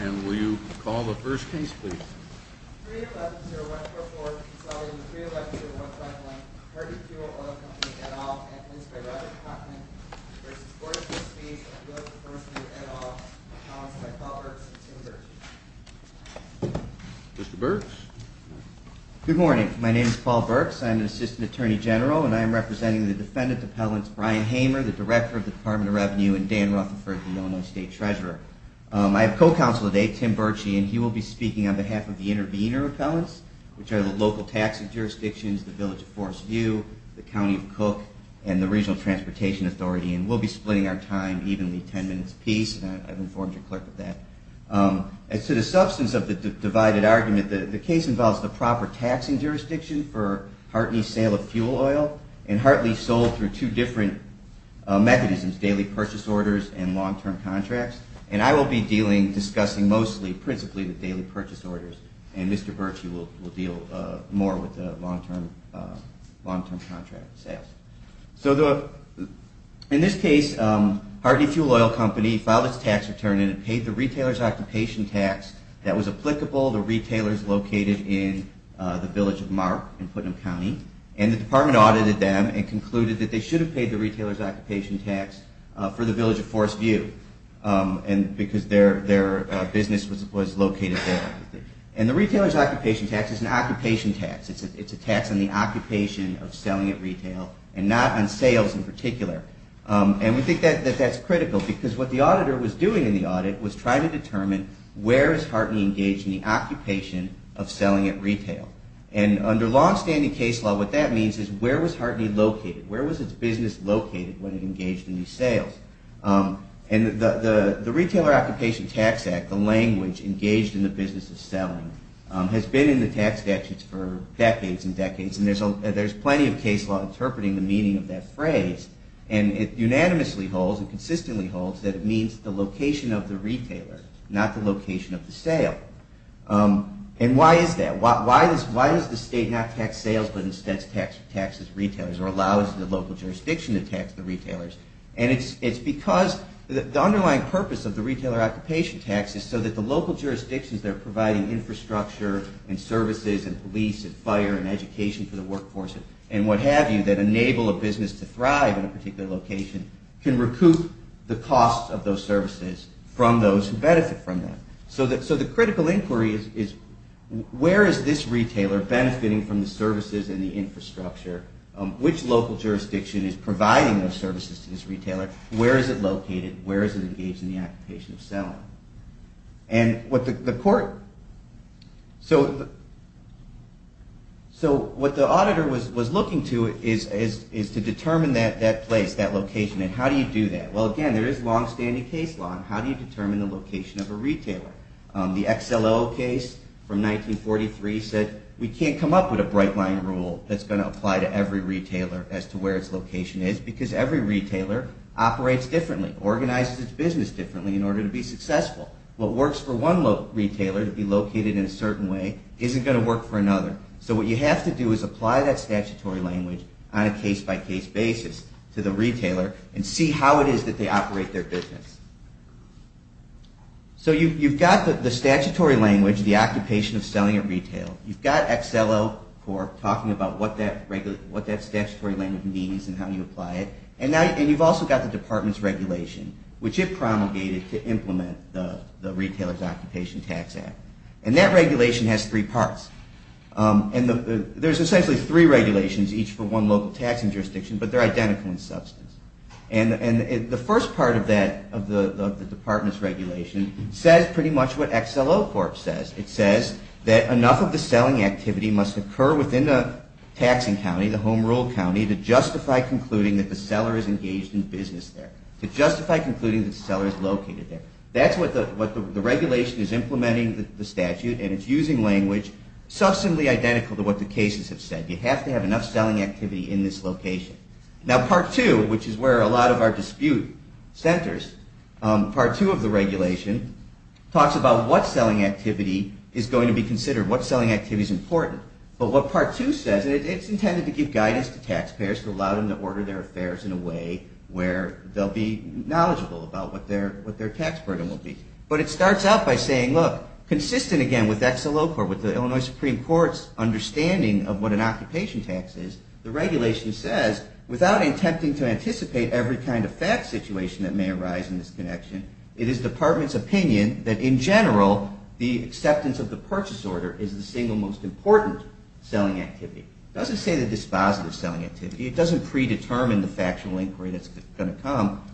And will you call the first case please? 311-0144, Consolidated 311-0151, Hardy Fuel Oil Company, et al. and Linsby-Rotherham Continent v. Board of Trustees of the Village of Forest View, et al. Announced by Paul Burks and Tim Burks. Mr. Burks? Good morning. My name is Paul Burks. I'm an Assistant Attorney General and I am representing the Defendant Appellants Brian Hamer, the Director of the Department of Revenue, and Dan Rutherford, the Illinois State Treasurer. I have co-counsel today, Tim Burchie, and he will be speaking on behalf of the intervener appellants, which are the local taxing jurisdictions, the Village of Forest View, the County of Cook, and the Regional Transportation Authority. And we'll be splitting our time evenly, ten minutes apiece. I've informed your clerk of that. As to the substance of the divided argument, the case involves the proper taxing jurisdiction for Hartley's sale of fuel oil, and Hartley's sold through two different mechanisms, daily purchase orders and long-term contracts. And I will be discussing mostly, principally, the daily purchase orders, and Mr. Burchie will deal more with the long-term contract sales. So in this case, Hartley Fuel Oil Company filed its tax return and it paid the retailer's occupation tax that was applicable to retailers located in the Village of Mark in Putnam County. And the department audited them and concluded that they should have paid the retailer's occupation tax for the Village of Forest View because their business was located there. And the retailer's occupation tax is an occupation tax. It's a tax on the occupation of selling at retail and not on sales in particular. And we think that that's critical because what the auditor was doing in the audit was trying to determine where is Hartley engaged in the occupation of selling at retail. And under long-standing case law, what that means is where was Hartley located? Where was its business located when it engaged in these sales? And the Retailer Occupation Tax Act, the language engaged in the business of selling, has been in the tax statutes for decades and decades, and there's plenty of case law interpreting the meaning of that phrase. And it unanimously holds, it consistently holds, that it means the location of the retailer, not the location of the sale. And why is that? Why does the state not tax sales, but instead taxes retailers or allows the local jurisdiction to tax the retailers? And it's because the underlying purpose of the Retailer Occupation Tax is so that the local jurisdictions that are providing infrastructure and services and police and fire and education for the workforce and what have you that enable a business to thrive in a particular location can recoup the cost of those services from those who benefit from them. So the critical inquiry is where is this retailer benefiting from the services and the infrastructure? Which local jurisdiction is providing those services to this retailer? Where is it located? Where is it engaged in the occupation of selling? And what the court, so what the auditor was looking to is to determine that place, that location, and how do you do that? Well, again, there is long-standing case law. How do you determine the location of a retailer? The XLO case from 1943 said we can't come up with a bright line rule that's going to apply to every retailer as to where its location is, because every retailer operates differently, organizes its business differently in order to be successful. What works for one retailer to be located in a certain way isn't going to work for another. So what you have to do is apply that statutory language on a case-by-case basis to the retailer and see how it is that they operate their business. So you've got the statutory language, the occupation of selling at retail. You've got XLO talking about what that statutory language means and how you apply it. And you've also got the department's regulation, which it promulgated to implement the Retailer's Occupation Tax Act. And that regulation has three parts. And there's essentially three regulations, each for one local taxing county. And part of that, of the department's regulation, says pretty much what XLO Corp. says. It says that enough of the selling activity must occur within the taxing county, the home rule county, to justify concluding that the seller is engaged in business there, to justify concluding that the seller is located there. That's what the regulation is implementing, the statute, and it's using language substantially identical to what the cases have said. You have to have enough selling activity in this location. Now, part two, which is where a lot of our dispute centers, part two of the regulation talks about what selling activity is going to be considered, what selling activity is important. But what part two says, and it's intended to give guidance to taxpayers to allow them to order their affairs in a way where they'll be knowledgeable about what their tax burden will be. But it starts out by saying, look, consistent, again, with XLO Corp., with the Illinois Supreme Court's understanding of what an occupation tax is, the regulation says, without attempting to anticipate every kind of fact situation that may arise in this connection, it is department's opinion that, in general, the acceptance of the purchase order is the single most important.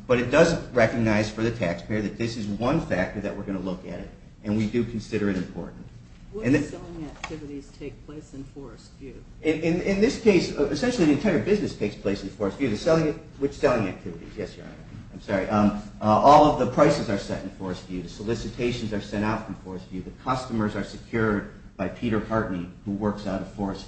But it does recognize for the taxpayer that this is one factor that we're going to look at, and we do consider it important. What selling activities take place in Forest View? In this case, essentially the entire business takes place in Forest View. The selling, which selling activities? Yes, Your Honor. I'm sorry. All of the prices are set in Forest View. The solicitations are sent out from Forest View. The customers are secured by Peter Hartney, who they move out of the Forest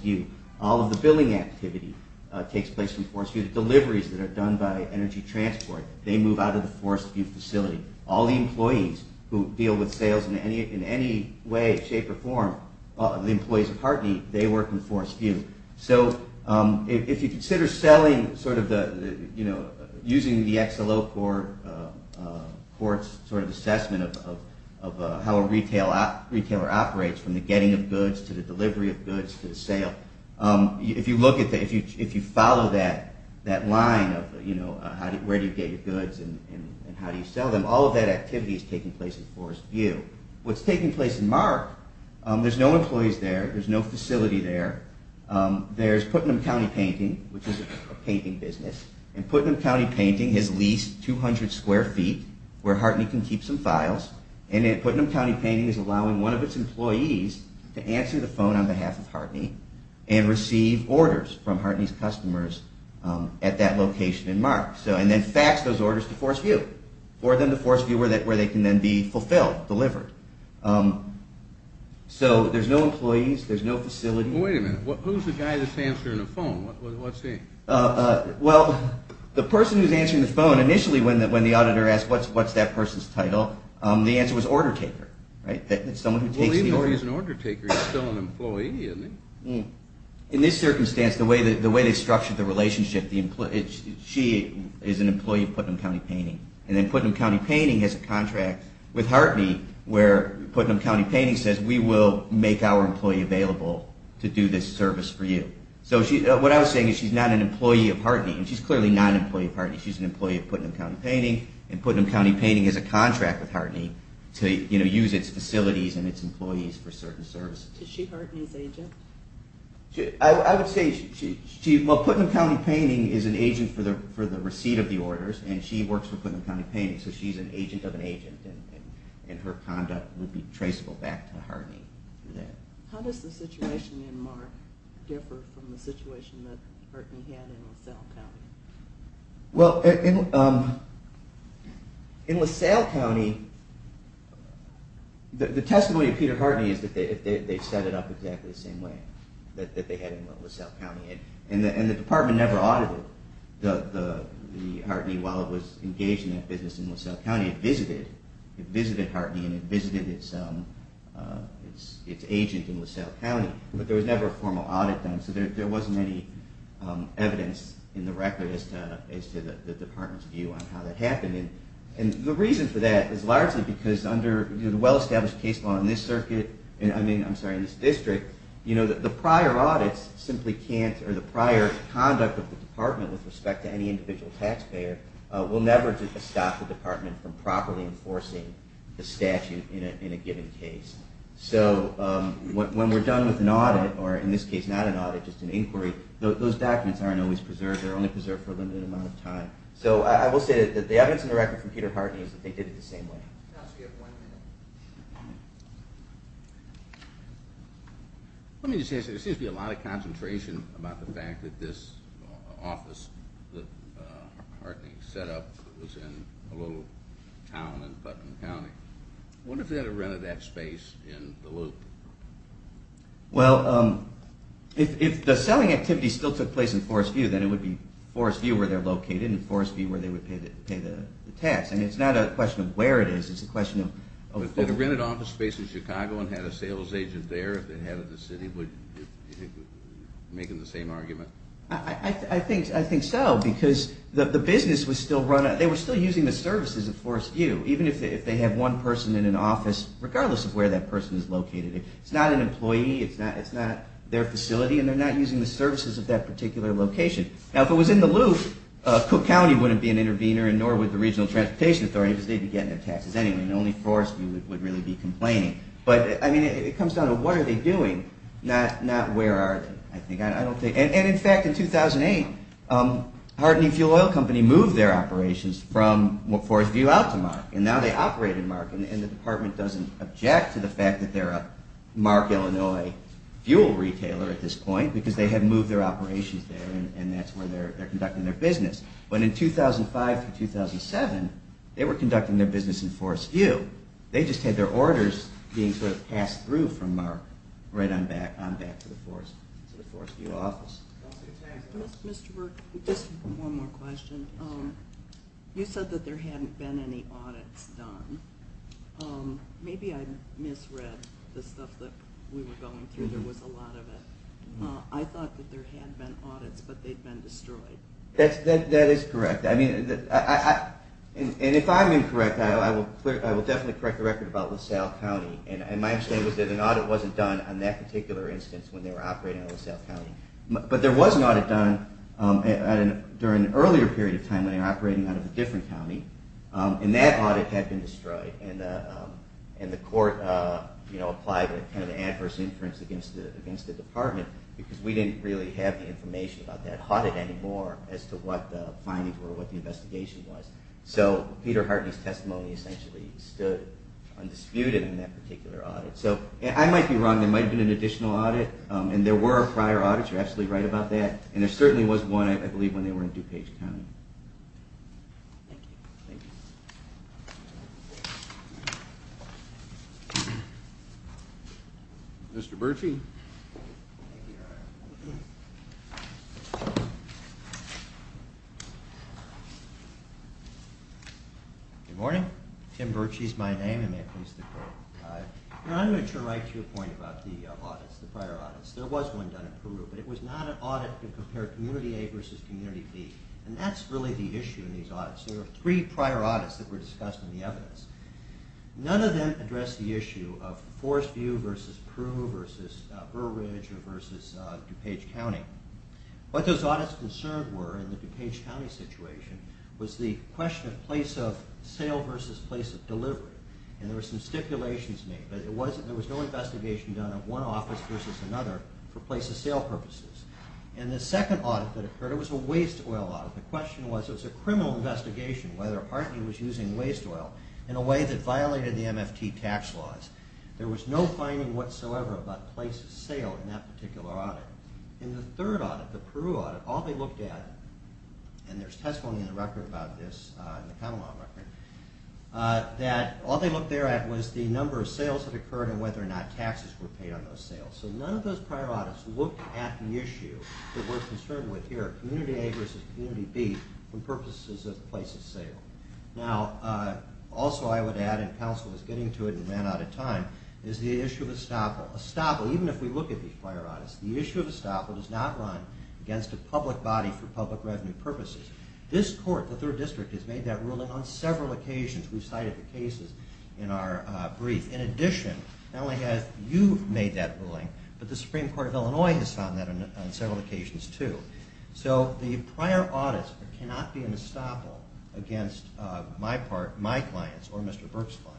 View facility. All the employees who deal with sales in any way, shape, or form, the employees of Hartney, they work in Forest View. So if you consider selling using the XLO Corp.'s assessment of how a retailer operates from the getting of goods to the delivery of goods and how do you sell them, all of that activity is taking place in Forest View. What's taking place in Mark, there's no employees there. There's no facility there. There's Putnam County Painting, which is a painting business, and Putnam County Painting has leased 200 square feet where Hartney can keep some files, and Putnam County Painting is allowing one of its employees to answer the phone on behalf of Hartney and receive orders from Hartney's customers at that location in Mark, and then fax those orders to Forest View for them to Forest View where they can then be fulfilled, delivered. So there's no employees. There's no facility. Well, wait a minute. Who's the guy that's answering the phone? What's he? Well, the person who's answering the phone initially when the auditor asked what's that person's title, the answer was order taker, right? Well, even though he's an order taker, he's still an employee, isn't he? In this circumstance, the way they structured the relationship, she is an employee of Putnam County Painting, and then Putnam County Painting has a contract with Hartney where Putnam County Painting says we will make our employee available to do this service for you. So what I was saying is she's not an employee of Hartney, and she's clearly not an employee of Hartney. She's an employee of Putnam County Painting, and Putnam County Painting is an agent for the receipt of the orders, and she works for Putnam County Painting, so she's an agent of an agent, and her conduct would be traceable back to Hartney. How does the situation in Mark differ from the situation that Hartney had in LaSalle County? Well, in LaSalle County, the testimony of exactly the same way that they had in LaSalle County, and the department never audited the Hartney while it was engaged in that business in LaSalle County. It visited Hartney and it visited its agent in LaSalle County, but there was never a formal audit done, so there wasn't any evidence in the record as to the reason for that is largely because under the well-established case law in this district, the prior audits simply can't, or the prior conduct of the department with respect to any individual taxpayer will never stop the department from properly enforcing the statute in a given case. So when we're done with an audit, or in this case, not an audit, just an inquiry, those documents aren't always preserved. They're only preserved for a limited amount of time. So I will say that the evidence in the record from Peter Hartney is that they did it the same way. Let me just ask you, there seems to be a lot of concentration about the fact that this Well, if the selling activity still took place in Forest View, then it would be Forest View where they're located, and Forest View where they would pay the tax. I mean, it's not a question of where it is, it's a question of... But did a rented office space in Chicago and had a sales agent there if they had it in the city? Would you make the same argument? I think so, because the business was still running, they were still using the services of Forest View, even if they had one person in an office, regardless of where that person is located. It's not an employee, it's not their facility, and they're not using the services of that particular location. Now, if it was in Duluth, Cook County wouldn't be an intervener, nor would the Regional Transportation Authority, because they'd be getting their taxes anyway, and only Forest View would really be complaining. But, I mean, it comes down to what are they doing, not where are they. And in fact, in 2008, Hardening Fuel Oil Company moved their operations from Forest View out to Mark, and now they operate in Mark, and the department doesn't object to the fact that they're a Mark, Illinois, fuel retailer at this point, because they had moved their operations there, and that's where they're conducting their business. But in 2005 to 2007, they were conducting their business in Forest View. They just had their orders being sort of passed through from Mark right on back to the Forest View office. Mr. Burke, just one more question. You said that there hadn't been any audits done. Maybe I misread the stuff that we were going through. There was a lot of it. I thought that there had been audits, but they'd been destroyed. That is correct. And if I'm incorrect, I will definitely correct the record about LaSalle County, and my understanding was that an audit wasn't done on that particular instance when they were operating out of LaSalle County. But there was an audit done during an earlier period of time when they were operating out of a different county, and that audit had been destroyed, and the court applied an adverse inference against the department because we didn't really have any information about that audit anymore as to what the findings were, what the investigation was. So Peter Hartney's testimony essentially stood undisputed in that particular audit. So I might be wrong. There might have been an additional audit, and there were prior audits. You're absolutely right about that, and there certainly was one, I believe, when they were in DuPage County. Thank you. Thank you. Mr. Birchie. Good morning. Tim Birchie is my name, and may it please the court. I'm going to turn right to your point about the audits, the prior audits. There was one done in Peru, but it was not an audit to compare community A versus community B, and that's really the issue in these audits. There were three prior audits that were discussed in the evidence. None of them addressed the issue of Forest View versus Peru versus Burr Ridge versus DuPage County. What those audits concerned were in the DuPage County situation was the question of place of sale versus place of delivery, and there were some stipulations made, but there was no investigation done of one office versus another for place of sale purposes. In the second audit that occurred, it was a waste oil audit. The question was it was a criminal investigation whether Hartney was using waste oil in a way that violated the MFT tax laws. There was no finding whatsoever about place of sale in that particular audit. In the third audit, the Peru audit, all they looked at, and there's testimony in the record about those sales that occurred and whether or not taxes were paid on those sales. So none of those prior audits looked at the issue that we're concerned with here, community A versus community B, for purposes of place of sale. Now, also I would add, and counsel was getting to it and ran out of time, is the issue of estoppel. Even if we look at these prior audits, the issue of estoppel does not run against a public body for public revenue purposes. This court, the third district, has made that ruling on several occasions. We've cited the cases in our brief. In addition, not only have you made that ruling, but the Supreme Court of Illinois has found that on several occasions too. So the prior audits cannot be an estoppel against my clients or Mr. Burke's client.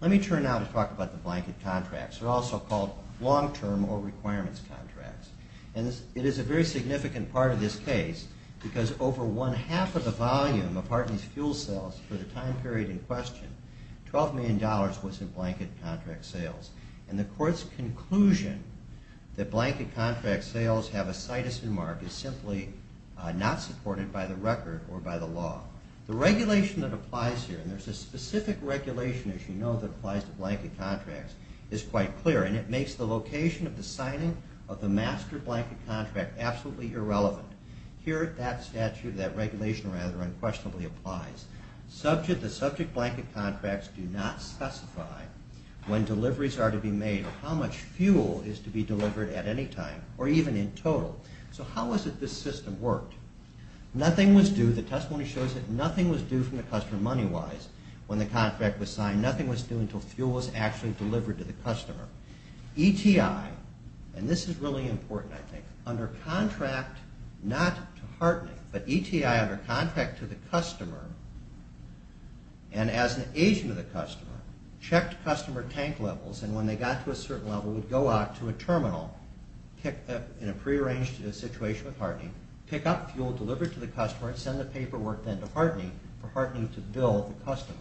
Let me turn now to talk about the blanket contracts. They're also called long-term or requirements contracts. And it is a very significant part of this case because over one-half of the volume of Hartney's fuel sales for the time period in question, $12 million was in blanket contract sales. And the court's conclusion that blanket contract sales have a cytosine mark is simply not supported by the record or by the law. The regulation that applies here, and there's a specific regulation, as you know, that applies to blanket contracts, is quite clear. And it makes the location of the signing of the master blanket contract absolutely irrelevant. Here, that statute, that regulation rather unquestionably applies. The subject blanket contracts do not specify when deliveries are to be made or how much fuel is to be delivered at any time or even in total. So how is it this system worked? Nothing was due, the testimony shows that nothing was due from the customer money-wise when the contract was signed. Nothing was due until fuel was actually delivered to the customer. ETI, and this is really important I think, under contract not to Hartney, but ETI under contract to the customer and as an agent of the customer, checked customer tank levels and when they got to a certain level would go out to a terminal in a prearranged situation with Hartney, pick up fuel delivered to the customer and send the paperwork then to Hartney for Hartney to bill the customer.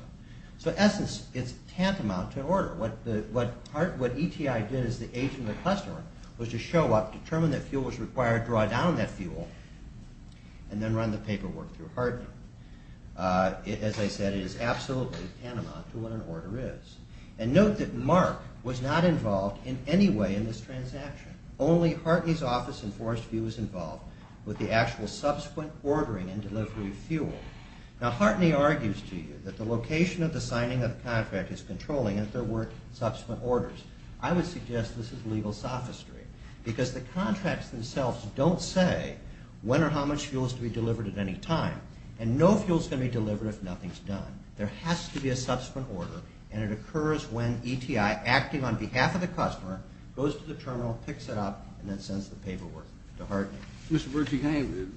So in essence, it's tantamount to an order. What ETI did as the agent of the customer was to show up, determine that fuel was required, draw down that fuel, and then run the paperwork through Hartney. As I said, it is absolutely tantamount to what an order is. And note that Mark was not involved in any way in this transaction. Only Hartney's office in Forest View was involved with the actual subsequent ordering and delivery of fuel. Now Hartney argues to you that the location of the signing of the contract is controlling if there were subsequent orders. I would suggest this is legal sophistry because the contracts themselves don't say when or how much fuel is to be delivered at any time and no fuel is going to be delivered if nothing is done. There has to be a subsequent order and it occurs when ETI, acting on behalf of the customer, goes to the terminal, picks it up, and then sends the paperwork to Hartney. Mr. Berge, can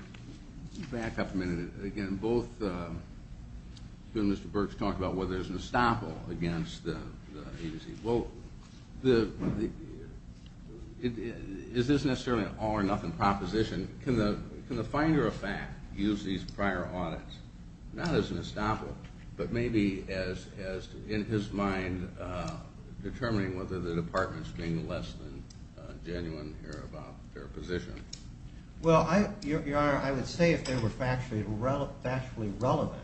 I back up a minute? Again, both you and Mr. Berge talked about whether there's an estoppel against the agency. Well, is this necessarily an all or nothing proposition? Can the finder of fact use these prior audits not as an estoppel but maybe as, in his mind, determining whether the department is being less than genuine about their position? Well, Your Honor, I would say if they were factually relevant,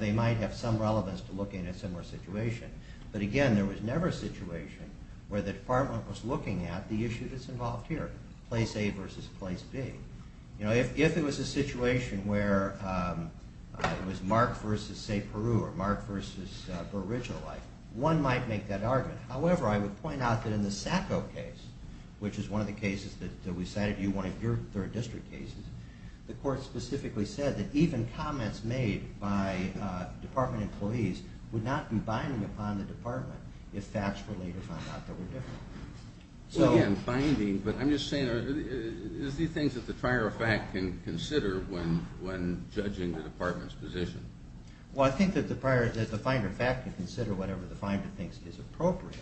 they might have some relevance to looking at a similar situation. But again, there was never a situation where the department was looking at the issue that's involved here, place A versus place B. If it was a situation where it was Mark versus, say, Peru or Mark versus original life, one might make that argument. However, I would point out that in the Sacco case, which is one of the cases that we cited, one of your third district cases, the court specifically said that even comments made by department employees would not be binding upon the department if facts were later found out that were different. So again, binding, but I'm just saying, are these things that the finder of fact can consider when judging the department's position? Well, I think that the finder of fact can consider whatever the finder thinks is appropriate.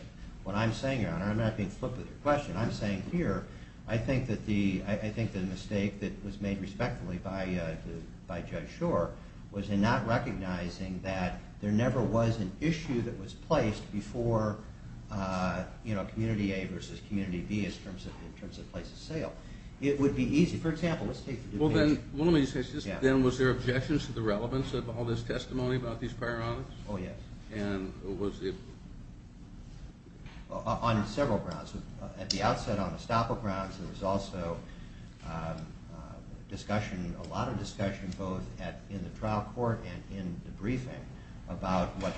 What I'm saying, Your Honor, and I'm not being flippant with your question, I'm saying here, I think the mistake that was made respectfully by Judge Schor was in not recognizing that there never was an issue that was placed before, you know, community A versus community B in terms of place of sale. It would be easy, for example, let's take the Duke case. Then was there objections to the relevance of all this testimony about these prior audits? Oh, yes. And was it? On several grounds. At the outset on estoppel grounds, there was also discussion, a lot of discussion, both in the trial court and in the briefing about what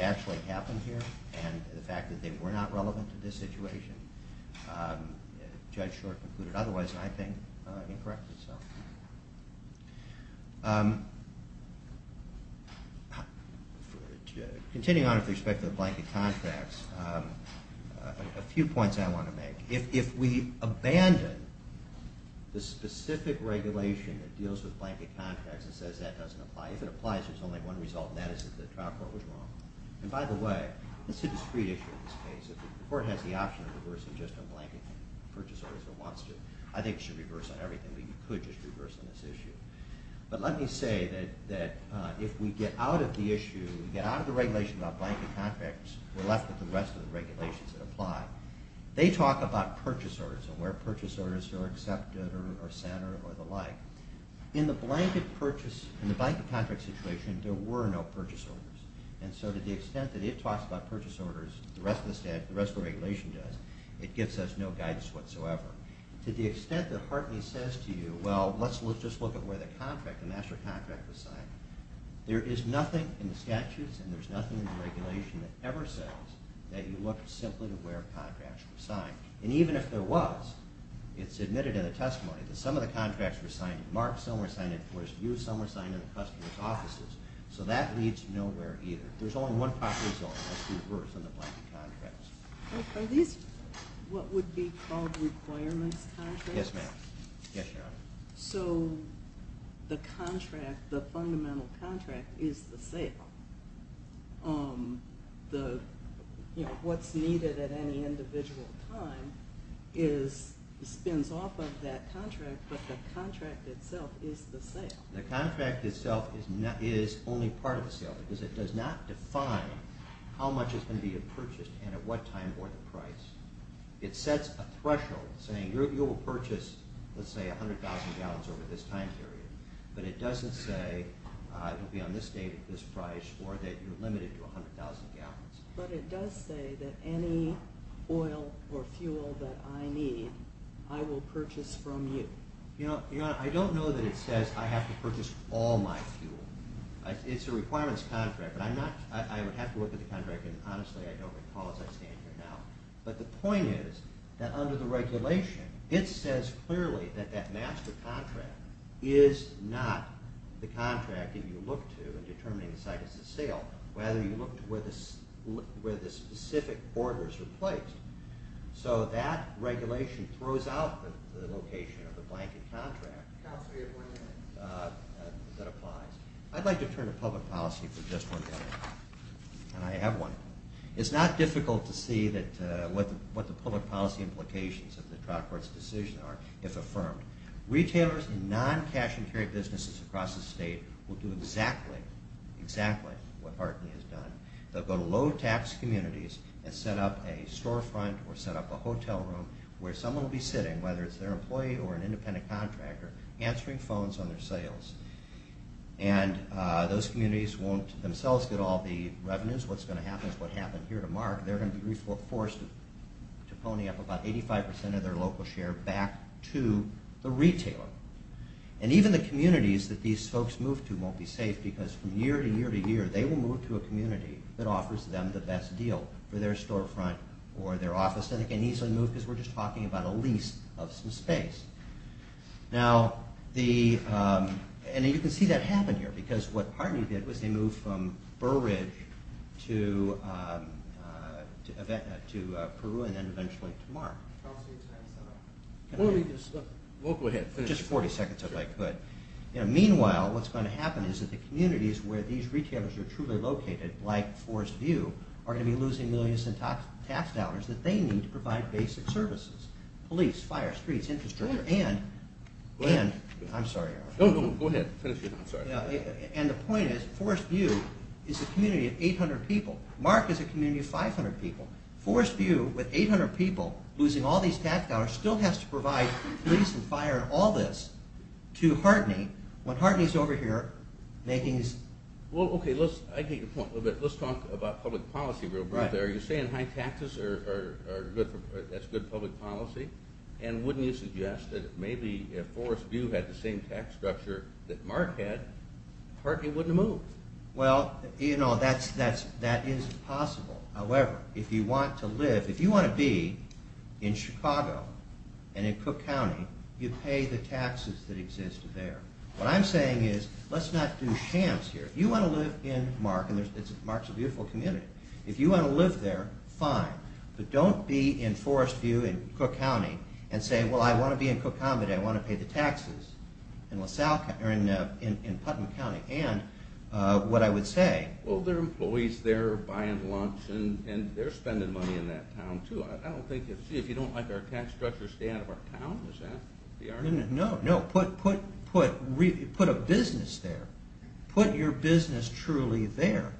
actually happened here and the fact that they were not relevant to this situation. Judge Schor concluded otherwise, and I think he corrected himself. Continuing on with respect to the blanket contracts, a few points I want to make. If we abandon the specific regulation that deals with blanket contracts and says that doesn't apply, if it applies, there's only one result, and that is that the trial court was wrong. And by the way, this is a discreet issue in this case. The court has the option of reversing just on blanket purchase orders if it wants to. I think it should reverse on everything, but you could just reverse on this issue. But let me say that if we get out of the issue, get out of the regulation about blanket contracts, we're left with the rest of the regulations that apply. They talk about purchase orders and where purchase orders are accepted or centered or the like. In the blanket contract situation, there were no purchase orders. And so to the extent that it talks about purchase orders, the rest of the regulation does, it gives us no guidance whatsoever. To the extent that Hartley says to you, well, let's just look at where the master contract was signed, there is nothing in the statutes and there's nothing in the regulation that ever says that you look simply to where contracts were signed. And even if there was, it's admitted in the testimony that some of the contracts were signed. Mark, some were signed in Fortisview, some were signed in the customer's offices. So that leads nowhere either. There's only one possible result. Let's do reverse on the blanket contracts. Are these what would be called requirements contracts? Yes, ma'am. Yes, Your Honor. So the contract, the fundamental contract is the sale. What's needed at any individual time spins off of that contract, but the contract itself is the sale. The contract itself is only part of the sale because it does not define how much is going to be purchased and at what time or the price. It sets a threshold saying you will purchase, let's say, 100,000 gallons over this time period, but it doesn't say it will be on this date at this price or that you're limited to 100,000 gallons. But it does say that any oil or fuel that I need I will purchase from you. Your Honor, I don't know that it says I have to purchase all my fuel. It's a requirements contract, but I'm not – I would have to look at the contract, and honestly, I don't recall as I stand here now. But the point is that under the regulation, it says clearly that that master contract is not the contract that you look to in determining the site is the sale. Rather, you look to where the specific order is replaced. So that regulation throws out the location of the blanket contract that applies. I'd like to turn to public policy for just one minute, and I have one. It's not difficult to see what the public policy implications of the trial court's decision are, if affirmed. Retailers and non-cash-and-carry businesses across the state will do exactly, exactly what Hartney has done. They'll go to low-tax communities and set up a storefront or set up a hotel room where someone will be sitting, whether it's their employee or an independent contractor, answering phones on their cells. And those communities won't themselves get all the revenues. What's going to happen is what happened here to Mark. They're going to be forced to pony up about 85 percent of their local share back to the retailer. And even the communities that these folks move to won't be safe, because from year to year to year, they will move to a community that offers them the best deal for their storefront or their office. And they can easily move because we're just talking about a lease of some space. Now, the – and you can see that happen here, because what Hartney did was they moved from Burridge to Peru and then eventually to Mark. Just 40 seconds, if I could. Meanwhile, what's going to happen is that the communities where these retailers are truly located, like Forest View, are going to be losing millions in tax dollars that they need to provide basic services. Police, fire, streets, infrastructure, and – I'm sorry. No, no, go ahead. Finish your – I'm sorry. And the point is Forest View is a community of 800 people. Mark is a community of 500 people. Forest View, with 800 people losing all these tax dollars, still has to provide police and fire and all this to Hartney. When Hartney's over here making his – Well, okay, let's – I get your point a little bit. Let's talk about public policy real briefly. Are you saying high taxes are good for – that's good public policy? And wouldn't you suggest that maybe if Forest View had the same tax structure that Mark had, Hartney wouldn't have moved? Well, you know, that is possible. However, if you want to live – if you want to be in Chicago and in Cook County, you pay the taxes that exist there. What I'm saying is let's not do shams here. If you want to live in Mark – and Mark's a beautiful community – if you want to live there, fine. But don't be in Forest View and Cook County and say, well, I want to be in Cook County. I want to pay the taxes in Putnam County. And what I would say – Well, there are employees there buying lunch and they're spending money in that town too. I don't think – see, if you don't like our tax structure, stay out of our town. Is that the argument? No, no. Put a business there. Put your business truly there.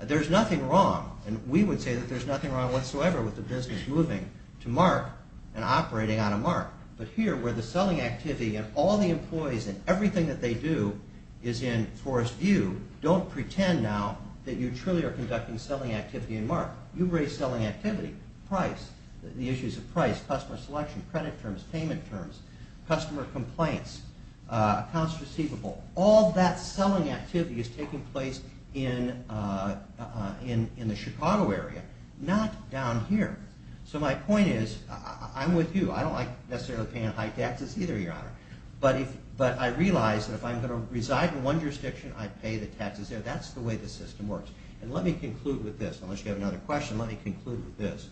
There's nothing wrong. And we would say that there's nothing wrong whatsoever with the business moving to Mark and operating out of Mark. But here, where the selling activity and all the employees and everything that they do is in Forest View, don't pretend now that you truly are conducting selling activity in Mark. You raise selling activity, price, the issues of price, customer selection, credit terms, payment terms, customer complaints, accounts receivable. All that selling activity is taking place in the Chicago area, not down here. So my point is, I'm with you. I don't like necessarily paying high taxes either, Your Honor. But I realize that if I'm going to reside in one jurisdiction, I pay the taxes there. That's the way the system works. And let me conclude with this. Unless you have another question, let me conclude with this.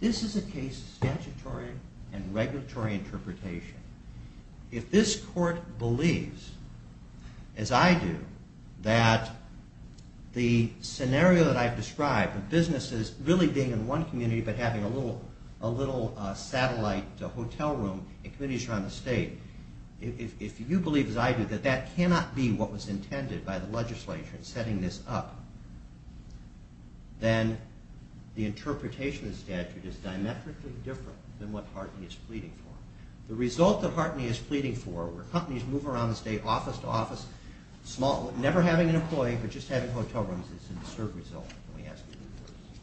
This is a case of statutory and regulatory interpretation. If this court believes, as I do, that the scenario that I've described of businesses really being in one community but having a little satellite hotel room in communities around the state, if you believe, as I do, that that cannot be what was intended by the legislature in setting this up, then the interpretation of the statute is diametrically different than what Hartley is pleading for. The result that Hartley is pleading for, where companies move around the state office-to-office, never having an employee but just having hotel rooms, is a disturbed result. Let me ask you to move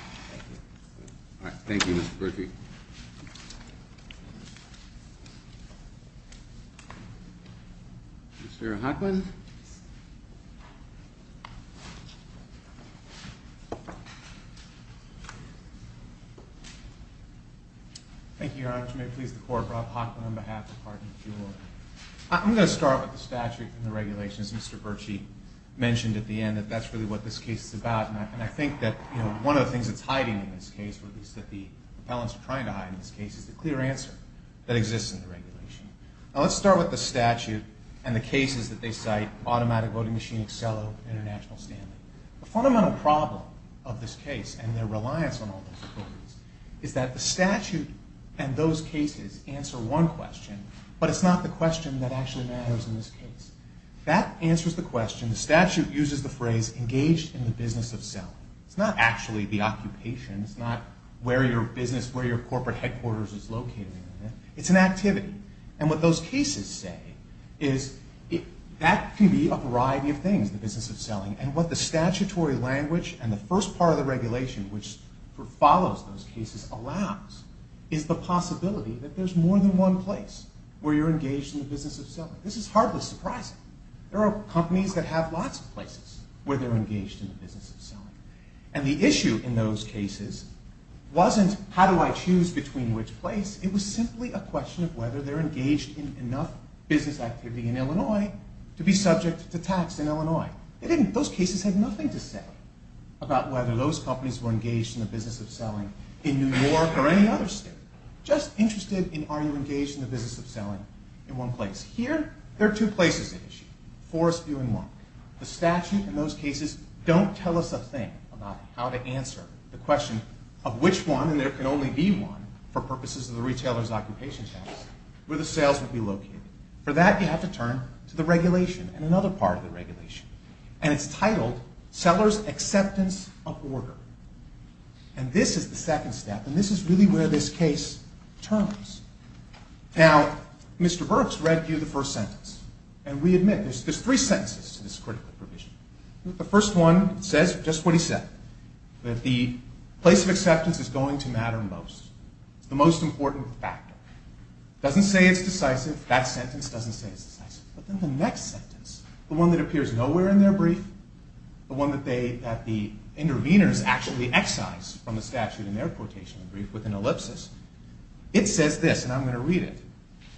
forward. Thank you. All right. Thank you, Mr. Berkey. Mr. Hochman. Thank you. Thank you, Your Honor. If you may please, the court brought Hochman on behalf of Hartley Jewelry. I'm going to start with the statute and the regulations. Mr. Berkey mentioned at the end that that's really what this case is about, and I think that one of the things that's hiding in this case, or at least that the appellants are trying to hide in this case, is the clear answer that exists in the regulation. Now let's start with the statute and the cases that they cite, Automatic Voting Machine, Accelo, International Stanley. The fundamental problem of this case and their reliance on all those authorities is that the statute and those cases answer one question, but it's not the question that actually matters in this case. That answers the question. The statute uses the phrase engaged in the business of selling. It's not actually the occupation. It's not where your business, where your corporate headquarters is located. It's an activity, and what those cases say is that can be a variety of things, the business of selling, and what the statutory language and the first part of the regulation, which follows those cases, allows is the possibility that there's more than one place where you're engaged in the business of selling. This is hardly surprising. There are companies that have lots of places where they're engaged in the business of selling, and the issue in those cases wasn't how do I choose between which place? It was simply a question of whether they're engaged in enough business activity in Illinois to be subject to tax in Illinois. Those cases had nothing to say about whether those companies were engaged in the business of selling in New York or any other state. Just interested in are you engaged in the business of selling in one place. Here, there are two places at issue. Forestview and Monk. The statute and those cases don't tell us a thing about how to answer the question of which one, and there can only be one for purposes of the retailer's occupation tax, where the sales would be located. For that, you have to turn to the regulation and another part of the regulation, and it's titled Seller's Acceptance of Order. And this is the second step, and this is really where this case turns. Now, Mr. Burks read you the first sentence, and we admit there's three sentences to this critical provision. The first one says just what he said, that the place of acceptance is going to matter most. It's the most important factor. It doesn't say it's decisive. That sentence doesn't say it's decisive. But then the next sentence, the one that appears nowhere in their brief, the one that the interveners actually excise from the statute in their quotation brief with an ellipsis, it says this, and I'm going to read it.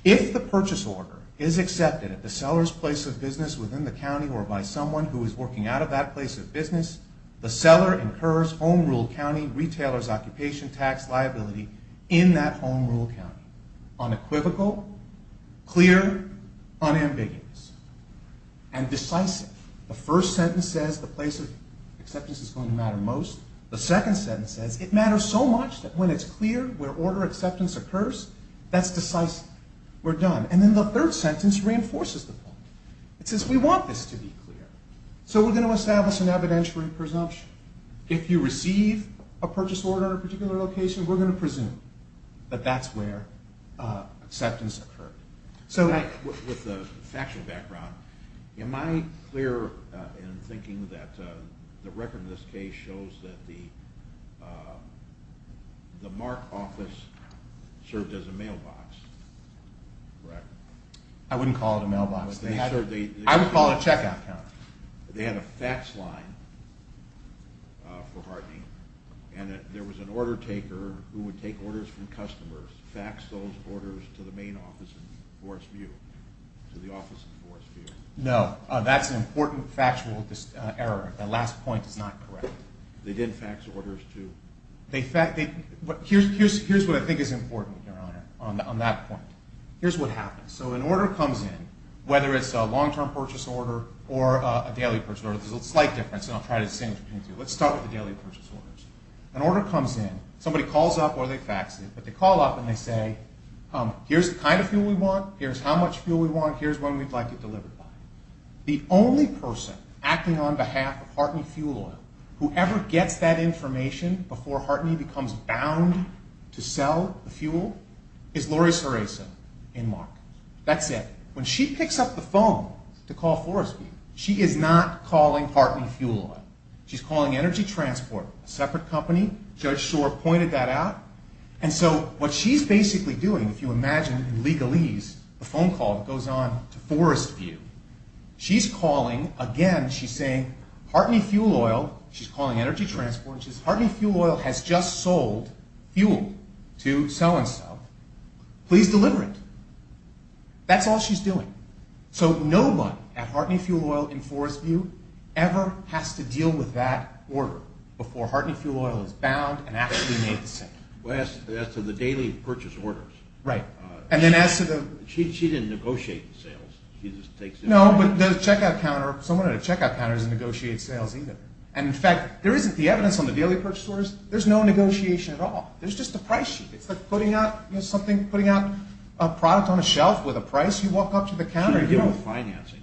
If the purchase order is accepted at the seller's place of business within the county or by someone who is working out of that place of business, the seller incurs home rule county retailers' occupation tax liability in that home rule county. Unequivocal, clear, unambiguous, and decisive. The first sentence says the place of acceptance is going to matter most. The second sentence says it matters so much that when it's clear where order acceptance occurs, that's decisive. We're done. And then the third sentence reinforces the point. It says we want this to be clear, so we're going to establish an evidentiary presumption. If you receive a purchase order at a particular location, we're going to presume that that's where acceptance occurred. With a factual background, am I clear in thinking that the record in this case shows that the MARC office served as a mailbox, correct? I wouldn't call it a mailbox. I would call it a checkout counter. They had a fax line for Hartney, and there was an order taker who would take orders from customers, fax those orders to the main office in Forest View, to the office in Forest View. No, that's an important factual error. That last point is not correct. They did fax orders to... Here's what I think is important, Your Honor, on that point. Here's what happens. So an order comes in, whether it's a long-term purchase order or a daily purchase order. There's a slight difference, and I'll try to distinguish between the two. Let's start with the daily purchase orders. An order comes in. Somebody calls up or they fax it, but they call up and they say, here's the kind of fuel we want, here's how much fuel we want, here's when we'd like it delivered by. The only person acting on behalf of Hartney Fuel Oil, whoever gets that information before Hartney becomes bound to sell the fuel, is Lori Seraiso in Mark. That's it. When she picks up the phone to call Forest View, she is not calling Hartney Fuel Oil. She's calling Energy Transport, a separate company. Judge Shore pointed that out. And so what she's basically doing, if you imagine in legalese, a phone call that goes on to Forest View, she's calling, again, she's saying, Hartney Fuel Oil, she's calling Energy Transport, and she says, Hartney Fuel Oil has just sold fuel to Sell and Sell. Please deliver it. That's all she's doing. So no one at Hartney Fuel Oil in Forest View ever has to deal with that order before Hartney Fuel Oil is bound and actually made the sale. As to the daily purchase orders. Right. And then as to the… No, but the checkout counter, someone at a checkout counter doesn't negotiate sales either. And, in fact, there isn't the evidence on the daily purchase orders. There's no negotiation at all. There's just a price sheet. It's like putting out something, putting out a product on a shelf with a price. You walk up to the counter, you don't… She doesn't deal with financing.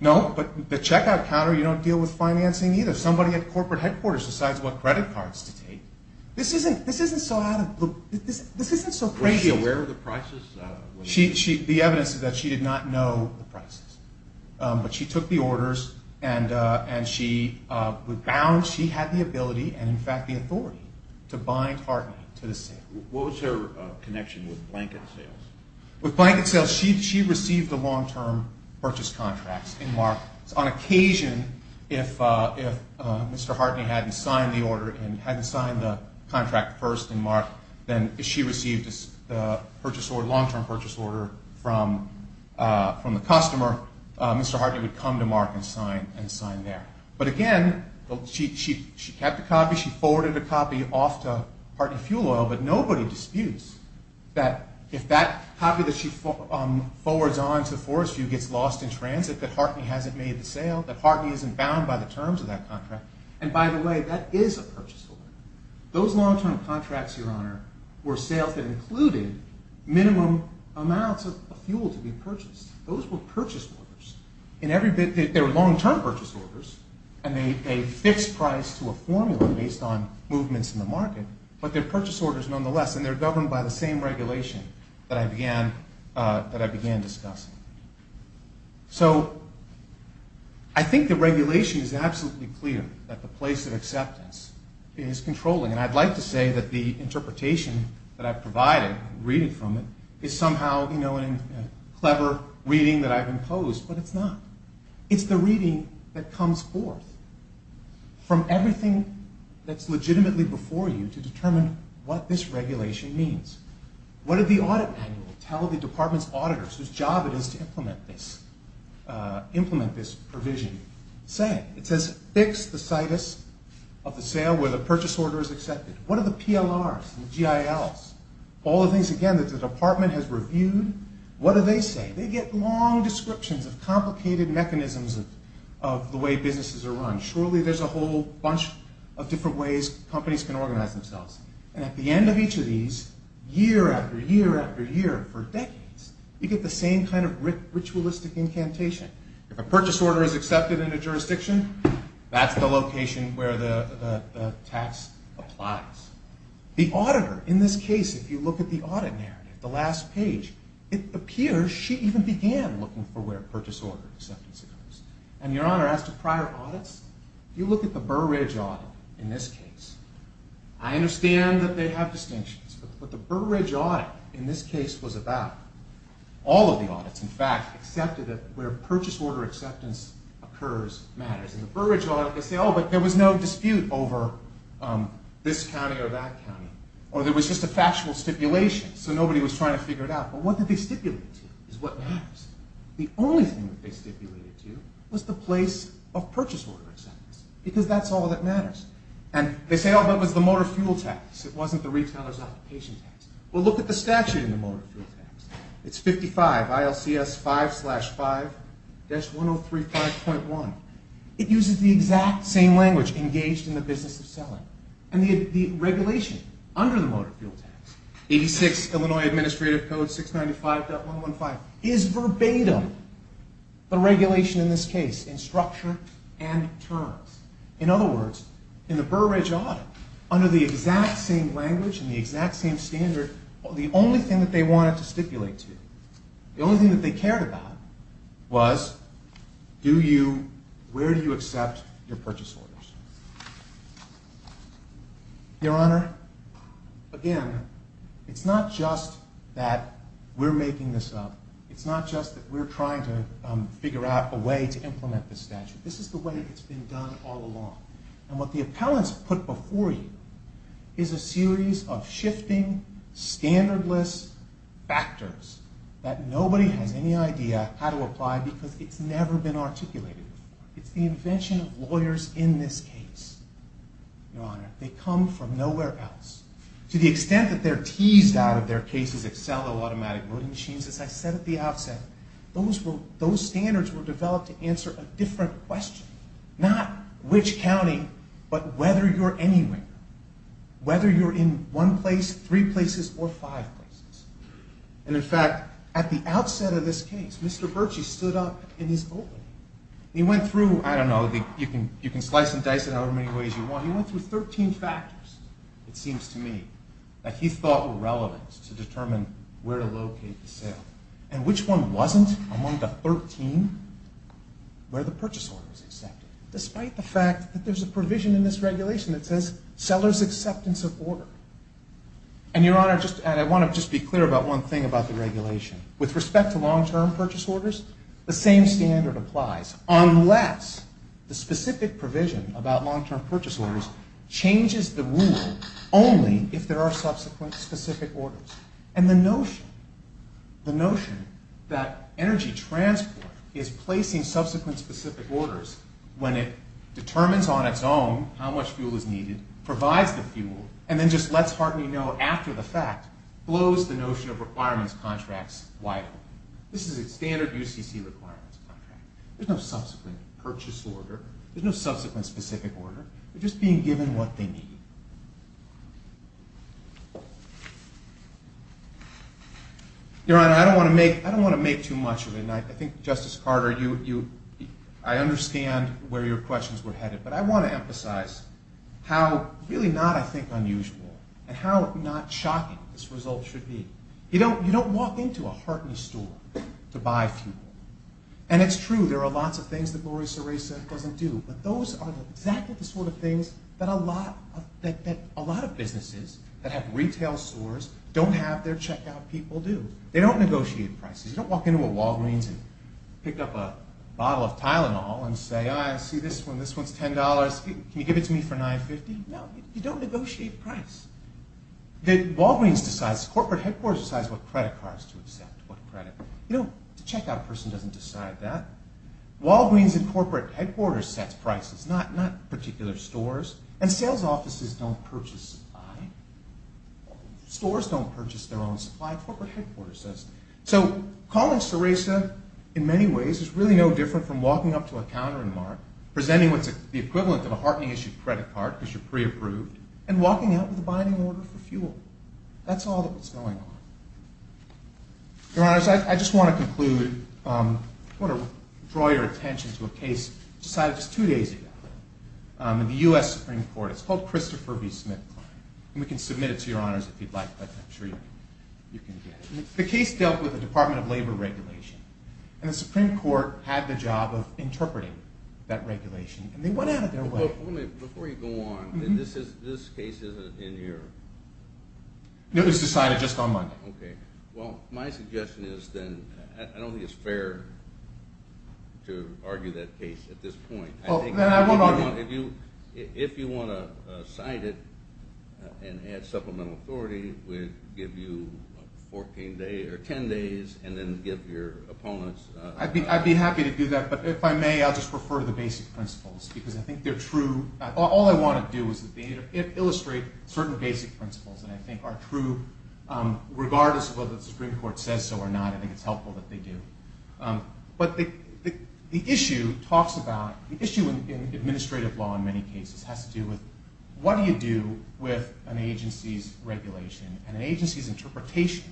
No, but the checkout counter, you don't deal with financing either. Somebody at corporate headquarters decides what credit cards to take. This isn't so out of the blue. This isn't so crazy. Was she aware of the prices? The evidence is that she did not know the prices. But she took the orders and she was bound. She had the ability and, in fact, the authority to bind Hartney to the sale. What was her connection with blanket sales? With blanket sales, she received the long-term purchase contracts in March. On occasion, if Mr. Hartney hadn't signed the order and hadn't signed the contract first in March, then if she received a long-term purchase order from the customer, Mr. Hartney would come to Mark and sign there. But, again, she kept the copy. She forwarded the copy off to Hartney Fuel Oil, but nobody disputes that if that copy that she forwards on to Forest View gets lost in transit, that Hartney hasn't made the sale, that Hartney isn't bound by the terms of that contract. And, by the way, that is a purchase order. Those long-term contracts, Your Honor, were sales that included minimum amounts of fuel to be purchased. Those were purchase orders. They were long-term purchase orders, and they paid a fixed price to a formula based on movements in the market, but they're purchase orders nonetheless, and they're governed by the same regulation that I began discussing. So I think the regulation is absolutely clear that the place of acceptance is controlling, and I'd like to say that the interpretation that I've provided, reading from it, is somehow a clever reading that I've imposed, but it's not. It's the reading that comes forth from everything that's legitimately before you to determine what this regulation means. What did the audit manual tell the department's auditors, whose job it is to implement this provision, say? It says fix the situs of the sale where the purchase order is accepted. What do the PLRs and the GILs, all the things, again, that the department has reviewed, what do they say? They get long descriptions of complicated mechanisms of the way businesses are run. Surely there's a whole bunch of different ways companies can organize themselves, and at the end of each of these, year after year after year for decades, you get the same kind of ritualistic incantation. If a purchase order is accepted in a jurisdiction, that's the location where the tax applies. The auditor, in this case, if you look at the audit narrative, the last page, it appears she even began looking for where purchase order acceptance occurs. And Your Honor, as to prior audits, if you look at the Burr Ridge audit in this case, I understand that they have distinctions, but the Burr Ridge audit in this case was about all of the audits, in fact, where purchase order acceptance occurs matters. In the Burr Ridge audit, they say, oh, but there was no dispute over this county or that county, or there was just a factual stipulation, so nobody was trying to figure it out. But what did they stipulate to is what matters. The only thing that they stipulated to was the place of purchase order acceptance, because that's all that matters. And they say, oh, but it was the motor fuel tax. It wasn't the retailer's occupation tax. Well, look at the statute in the motor fuel tax. It's 55, ILCS 5-5-1035.1. It uses the exact same language engaged in the business of selling. And the regulation under the motor fuel tax, 86 Illinois Administrative Code 695.115, is verbatim the regulation in this case in structure and terms. In other words, in the Burr Ridge audit, under the exact same language and the exact same standard, the only thing that they wanted to stipulate to, the only thing that they cared about, was where do you accept your purchase orders. Your Honor, again, it's not just that we're making this up. It's not just that we're trying to figure out a way to implement this statute. This is the way it's been done all along. And what the appellants put before you is a series of shifting, standardless factors that nobody has any idea how to apply because it's never been articulated before. It's the invention of lawyers in this case, Your Honor. They come from nowhere else. To the extent that they're teased out of their cases at Sello Automatic Loading Machines, as I said at the outset, those standards were developed to answer a different question. Not which county, but whether you're anywhere. Whether you're in one place, three places, or five places. And in fact, at the outset of this case, Mr. Bertschy stood up in his opening. He went through, I don't know, you can slice and dice it however many ways you want. He went through 13 factors, it seems to me, that he thought were relevant to determine where to locate the sale. And which one wasn't among the 13? Where the purchase order was accepted. Despite the fact that there's a provision in this regulation that says, seller's acceptance of order. And, Your Honor, I want to just be clear about one thing about the regulation. With respect to long-term purchase orders, the same standard applies, unless the specific provision about long-term purchase orders changes the rule only if there are subsequent specific orders. And the notion, the notion that energy transport is placing subsequent specific orders when it determines on its own how much fuel is needed, provides the fuel, and then just lets Hartley know after the fact, blows the notion of requirements contracts wide open. This is a standard UCC requirements contract. There's no subsequent purchase order. There's no subsequent specific order. They're just being given what they need. Your Honor, I don't want to make too much of it, and I think, Justice Carter, I understand where your questions were headed, but I want to emphasize how really not, I think, unusual, and how not shocking this result should be. You don't walk into a Hartley store to buy fuel. And it's true, there are lots of things that Gloria Serra said doesn't do, but those are exactly the sort of things that a lot of businesses that have retail stores don't have their checkout people do. They don't negotiate prices. You don't walk into a Walgreens and pick up a bottle of Tylenol and say, I see this one, this one's $10. Can you give it to me for $9.50? No, you don't negotiate price. Walgreens decides, corporate headquarters decides what credit cards to accept, what credit. The checkout person doesn't decide that. Walgreens and corporate headquarters set prices, not particular stores. And sales offices don't purchase supply. Stores don't purchase their own supply. Corporate headquarters does. So calling Sarasa, in many ways, is really no different from walking up to a counter in Mark, presenting what's the equivalent of a Hartley-issued credit card because you're pre-approved, and walking out with a binding order for fuel. That's all that's going on. Your Honors, I just want to conclude. I want to draw your attention to a case decided just two days ago in the U.S. Supreme Court. It's called Christopher v. Smith. And we can submit it to Your Honors if you'd like. But I'm sure you can get it. The case dealt with the Department of Labor regulation. And the Supreme Court had the job of interpreting that regulation. And they went at it their way. Before you go on, this case isn't in here. No, it was decided just on Monday. Okay. Well, my suggestion is then, I don't think it's fair to argue that case at this point. Well, then I won't argue. If you want to cite it and add supplemental authority, we'll give you 14 days or 10 days and then give your opponents. I'd be happy to do that. But if I may, I'll just refer to the basic principles because I think they're true. All I want to do is illustrate certain basic principles that I think are true regardless of whether the Supreme Court says so or not. I think it's helpful that they do. But the issue talks about the issue in administrative law in many cases has to do with what do you do with an agency's regulation and an agency's interpretation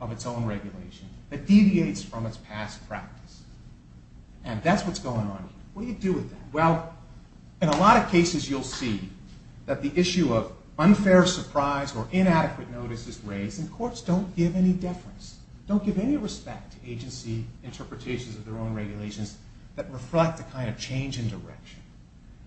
of its own regulation that deviates from its past practice. And that's what's going on here. What do you do with that? Well, in a lot of cases you'll see that the issue of unfair surprise or inadequate notice is raised. And courts don't give any deference, don't give any respect to agency interpretations of their own regulations that reflect the kind of change in direction.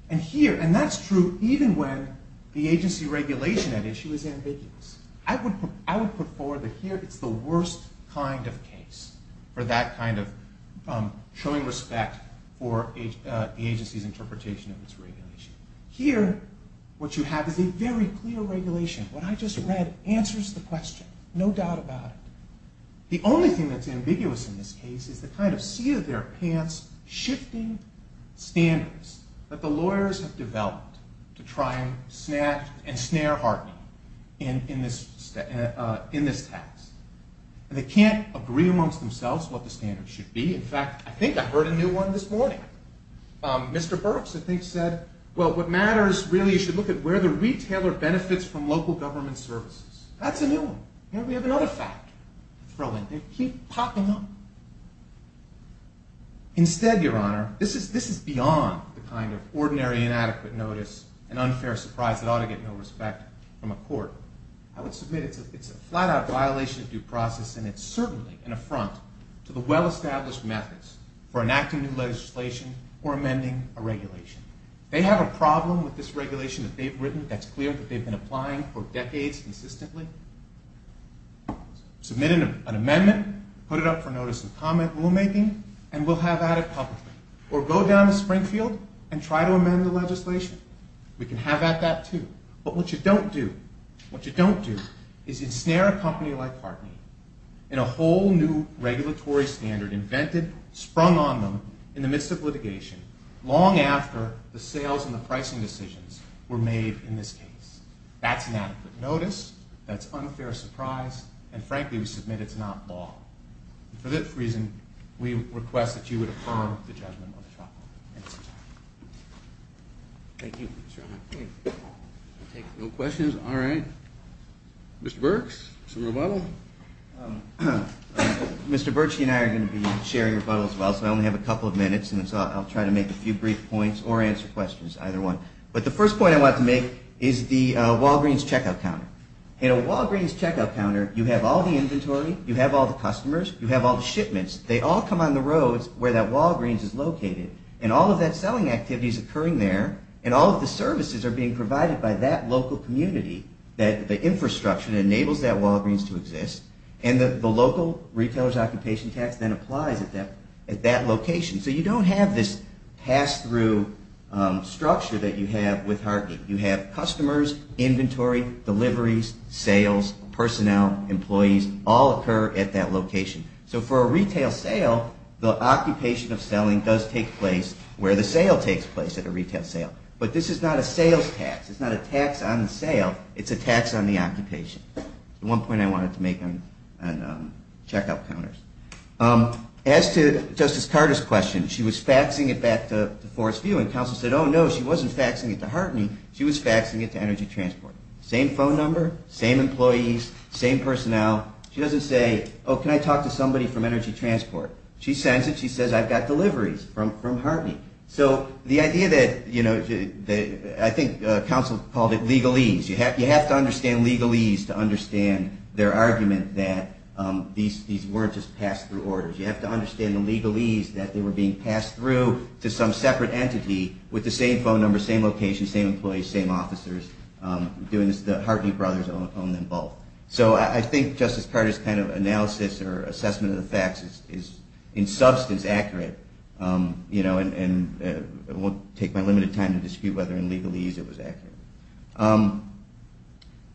And that's true even when the agency regulation at issue is ambiguous. I would put forward that here it's the worst kind of case for that kind of showing respect for the agency's interpretation of its regulation. Here what you have is a very clear regulation. What I just read answers the question. No doubt about it. The only thing that's ambiguous in this case is the kind of seat-of-their-pants shifting standards that the lawyers have developed to try and snare Hartney in this task. They can't agree amongst themselves what the standards should be. In fact, I think I heard a new one this morning. Mr. Burks, I think, said, well, what matters really is you should look at where the retailer benefits from local government services. That's a new one. Here we have another fact. They keep popping up. Instead, Your Honor, this is beyond the kind of ordinary inadequate notice, an unfair surprise that ought to get no respect from a court. I would submit it's a flat-out violation of due process, and it's certainly an affront to the well-established methods for enacting new legislation or amending a regulation. They have a problem with this regulation that they've written that's clear that they've been applying for decades consistently. Submit an amendment, put it up for notice in comment rulemaking, and we'll have at it publicly. Or go down to Springfield and try to amend the legislation. We can have at that, too. But what you don't do, what you don't do is ensnare a company like Hartney in a whole new regulatory standard invented, sprung on them in the midst of litigation long after the sales and the pricing decisions were made in this case. That's inadequate notice. That's unfair surprise. And frankly, we submit it's not law. For this reason, we request that you would affirm the judgment of the trial. Thank you, Your Honor. No questions? All right. Mr. Burks, some rebuttal? Mr. Burks, he and I are going to be sharing rebuttals as well, so I only have a couple of minutes, and I'll try to make a few brief points or answer questions, either one. But the first point I want to make is the Walgreens checkout counter. In a Walgreens checkout counter, you have all the inventory, you have all the customers, you have all the shipments. They all come on the roads where that Walgreens is located, and all of that selling activity is occurring there, and all of the services are being provided by that local community, that the infrastructure that enables that Walgreens to exist, and the local retailer's occupation tax then applies at that location. So you don't have this pass-through structure that you have with Hargate. You have customers, inventory, deliveries, sales, personnel, employees, all occur at that location. So for a retail sale, the occupation of selling does take place where the sale takes place at a retail sale. But this is not a sales tax. It's not a tax on the sale. It's a tax on the occupation. One point I wanted to make on checkout counters. As to Justice Carter's question, she was faxing it back to Forest View, and counsel said, oh, no, she wasn't faxing it to Hartney. She was faxing it to Energy Transport. Same phone number, same employees, same personnel. She doesn't say, oh, can I talk to somebody from Energy Transport? She sends it. She says, I've got deliveries from Hartney. So the idea that, you know, I think counsel called it legalese. You have to understand legalese to understand their argument that these weren't just pass-through orders. You have to understand the legalese that they were being passed through to some separate entity with the same phone number, same location, same employees, same officers. The Hartney brothers own them both. So I think Justice Carter's kind of analysis or assessment of the facts is in substance accurate, you know, and it won't take my limited time to dispute whether in legalese it was accurate.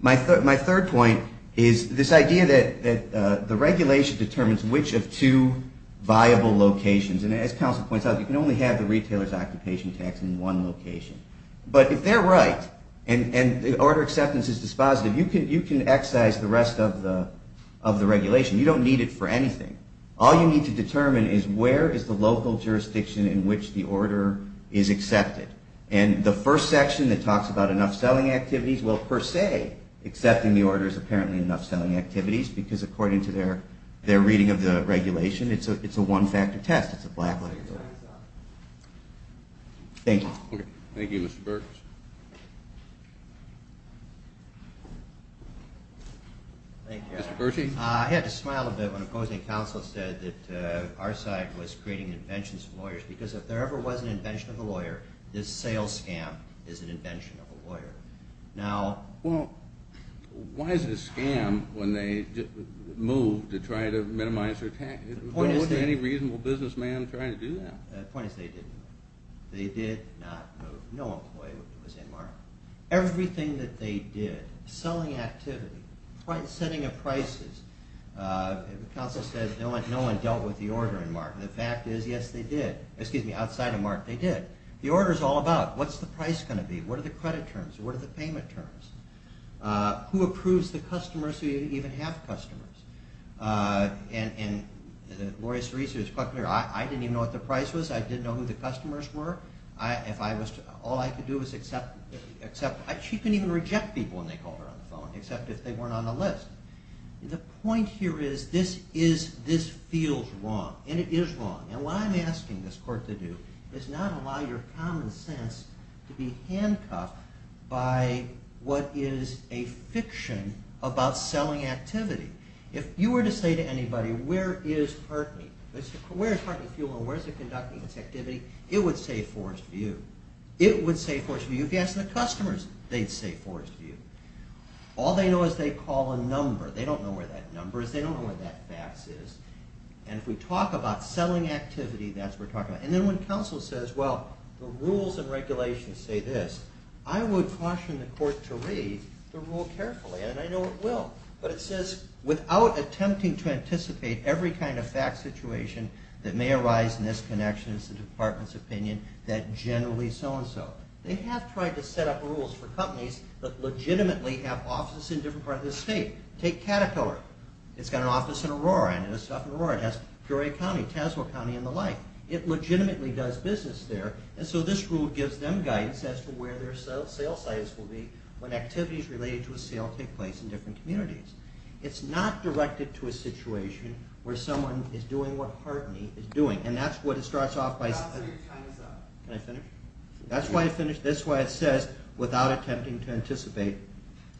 My third point is this idea that the regulation determines which of two viable locations, and as counsel points out, you can only have the retailer's occupation tax in one location. But if they're right and the order acceptance is dispositive, you can excise the rest of the regulation. You don't need it for anything. All you need to determine is where is the local jurisdiction in which the order is accepted. And the first section that talks about enough selling activities, well, per se, accepting the order is apparently enough selling activities because according to their reading of the regulation, it's a one-factor test. It's a black-letter test. Thank you. Thank you, Mr. Burks. Thank you. I had to smile a bit when opposing counsel said that our side was creating inventions for lawyers because if there ever was an invention of a lawyer, this sales scam is an invention of a lawyer. Well, why is it a scam when they move to try to minimize their tax? There wasn't any reasonable businessman trying to do that. The point is they didn't. They did not move. No employee was in Mark. Everything that they did, selling activity, setting of prices, counsel said no one dealt with the order in Mark. And the fact is, yes, they did. The order is all about what's the price going to be, what are the credit terms, what are the payment terms, who approves the customers who didn't even have customers. And Laurie Cerise was quite clear. I didn't even know what the price was. I didn't know who the customers were. All I could do was accept. She couldn't even reject people when they called her on the phone, except if they weren't on the list. The point here is this feels wrong, and it is wrong. And what I'm asking this court to do is not allow your common sense to be handcuffed by what is a fiction about selling activity. If you were to say to anybody, where is Hartley? Where is Hartley Fuel and where is it conducting its activity? It would say Forest View. It would say Forest View. If you asked the customers, they'd say Forest View. All they know is they call a number. They don't know where that number is. They don't know where that fax is. And if we talk about selling activity, that's what we're talking about. And then when counsel says, well, the rules and regulations say this, I would caution the court to read the rule carefully. And I know it will. But it says, without attempting to anticipate every kind of fax situation that may arise in this connection, it's the department's opinion, that generally so-and-so. They have tried to set up rules for companies that legitimately have offices in different parts of the state. Take Caterpillar. It's got an office in Aurora. It has stuff in Aurora. It has Peoria County, Tazewell County, and the like. It legitimately does business there. And so this rule gives them guidance as to where their sale sites will be when activities related to a sale take place in different communities. It's not directed to a situation where someone is doing what Hartley is doing. And that's what it starts off by saying. Counselor, your time is up. Can I finish? That's why it says, without attempting to anticipate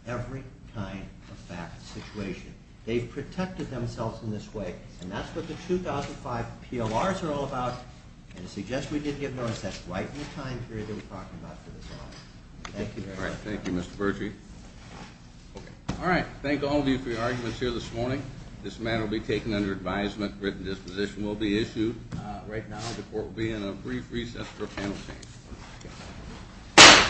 every kind of fax situation. They've protected themselves in this way. And that's what the 2005 PLRs are all about. And I suggest we did give notice. That's right in the time period that we're talking about for this audit. Thank you very much. Thank you, Mr. Bertree. All right. Thank all of you for your arguments here this morning. This matter will be taken under advisement. Written disposition will be issued. Right now the court will be in a brief recess for a panel change.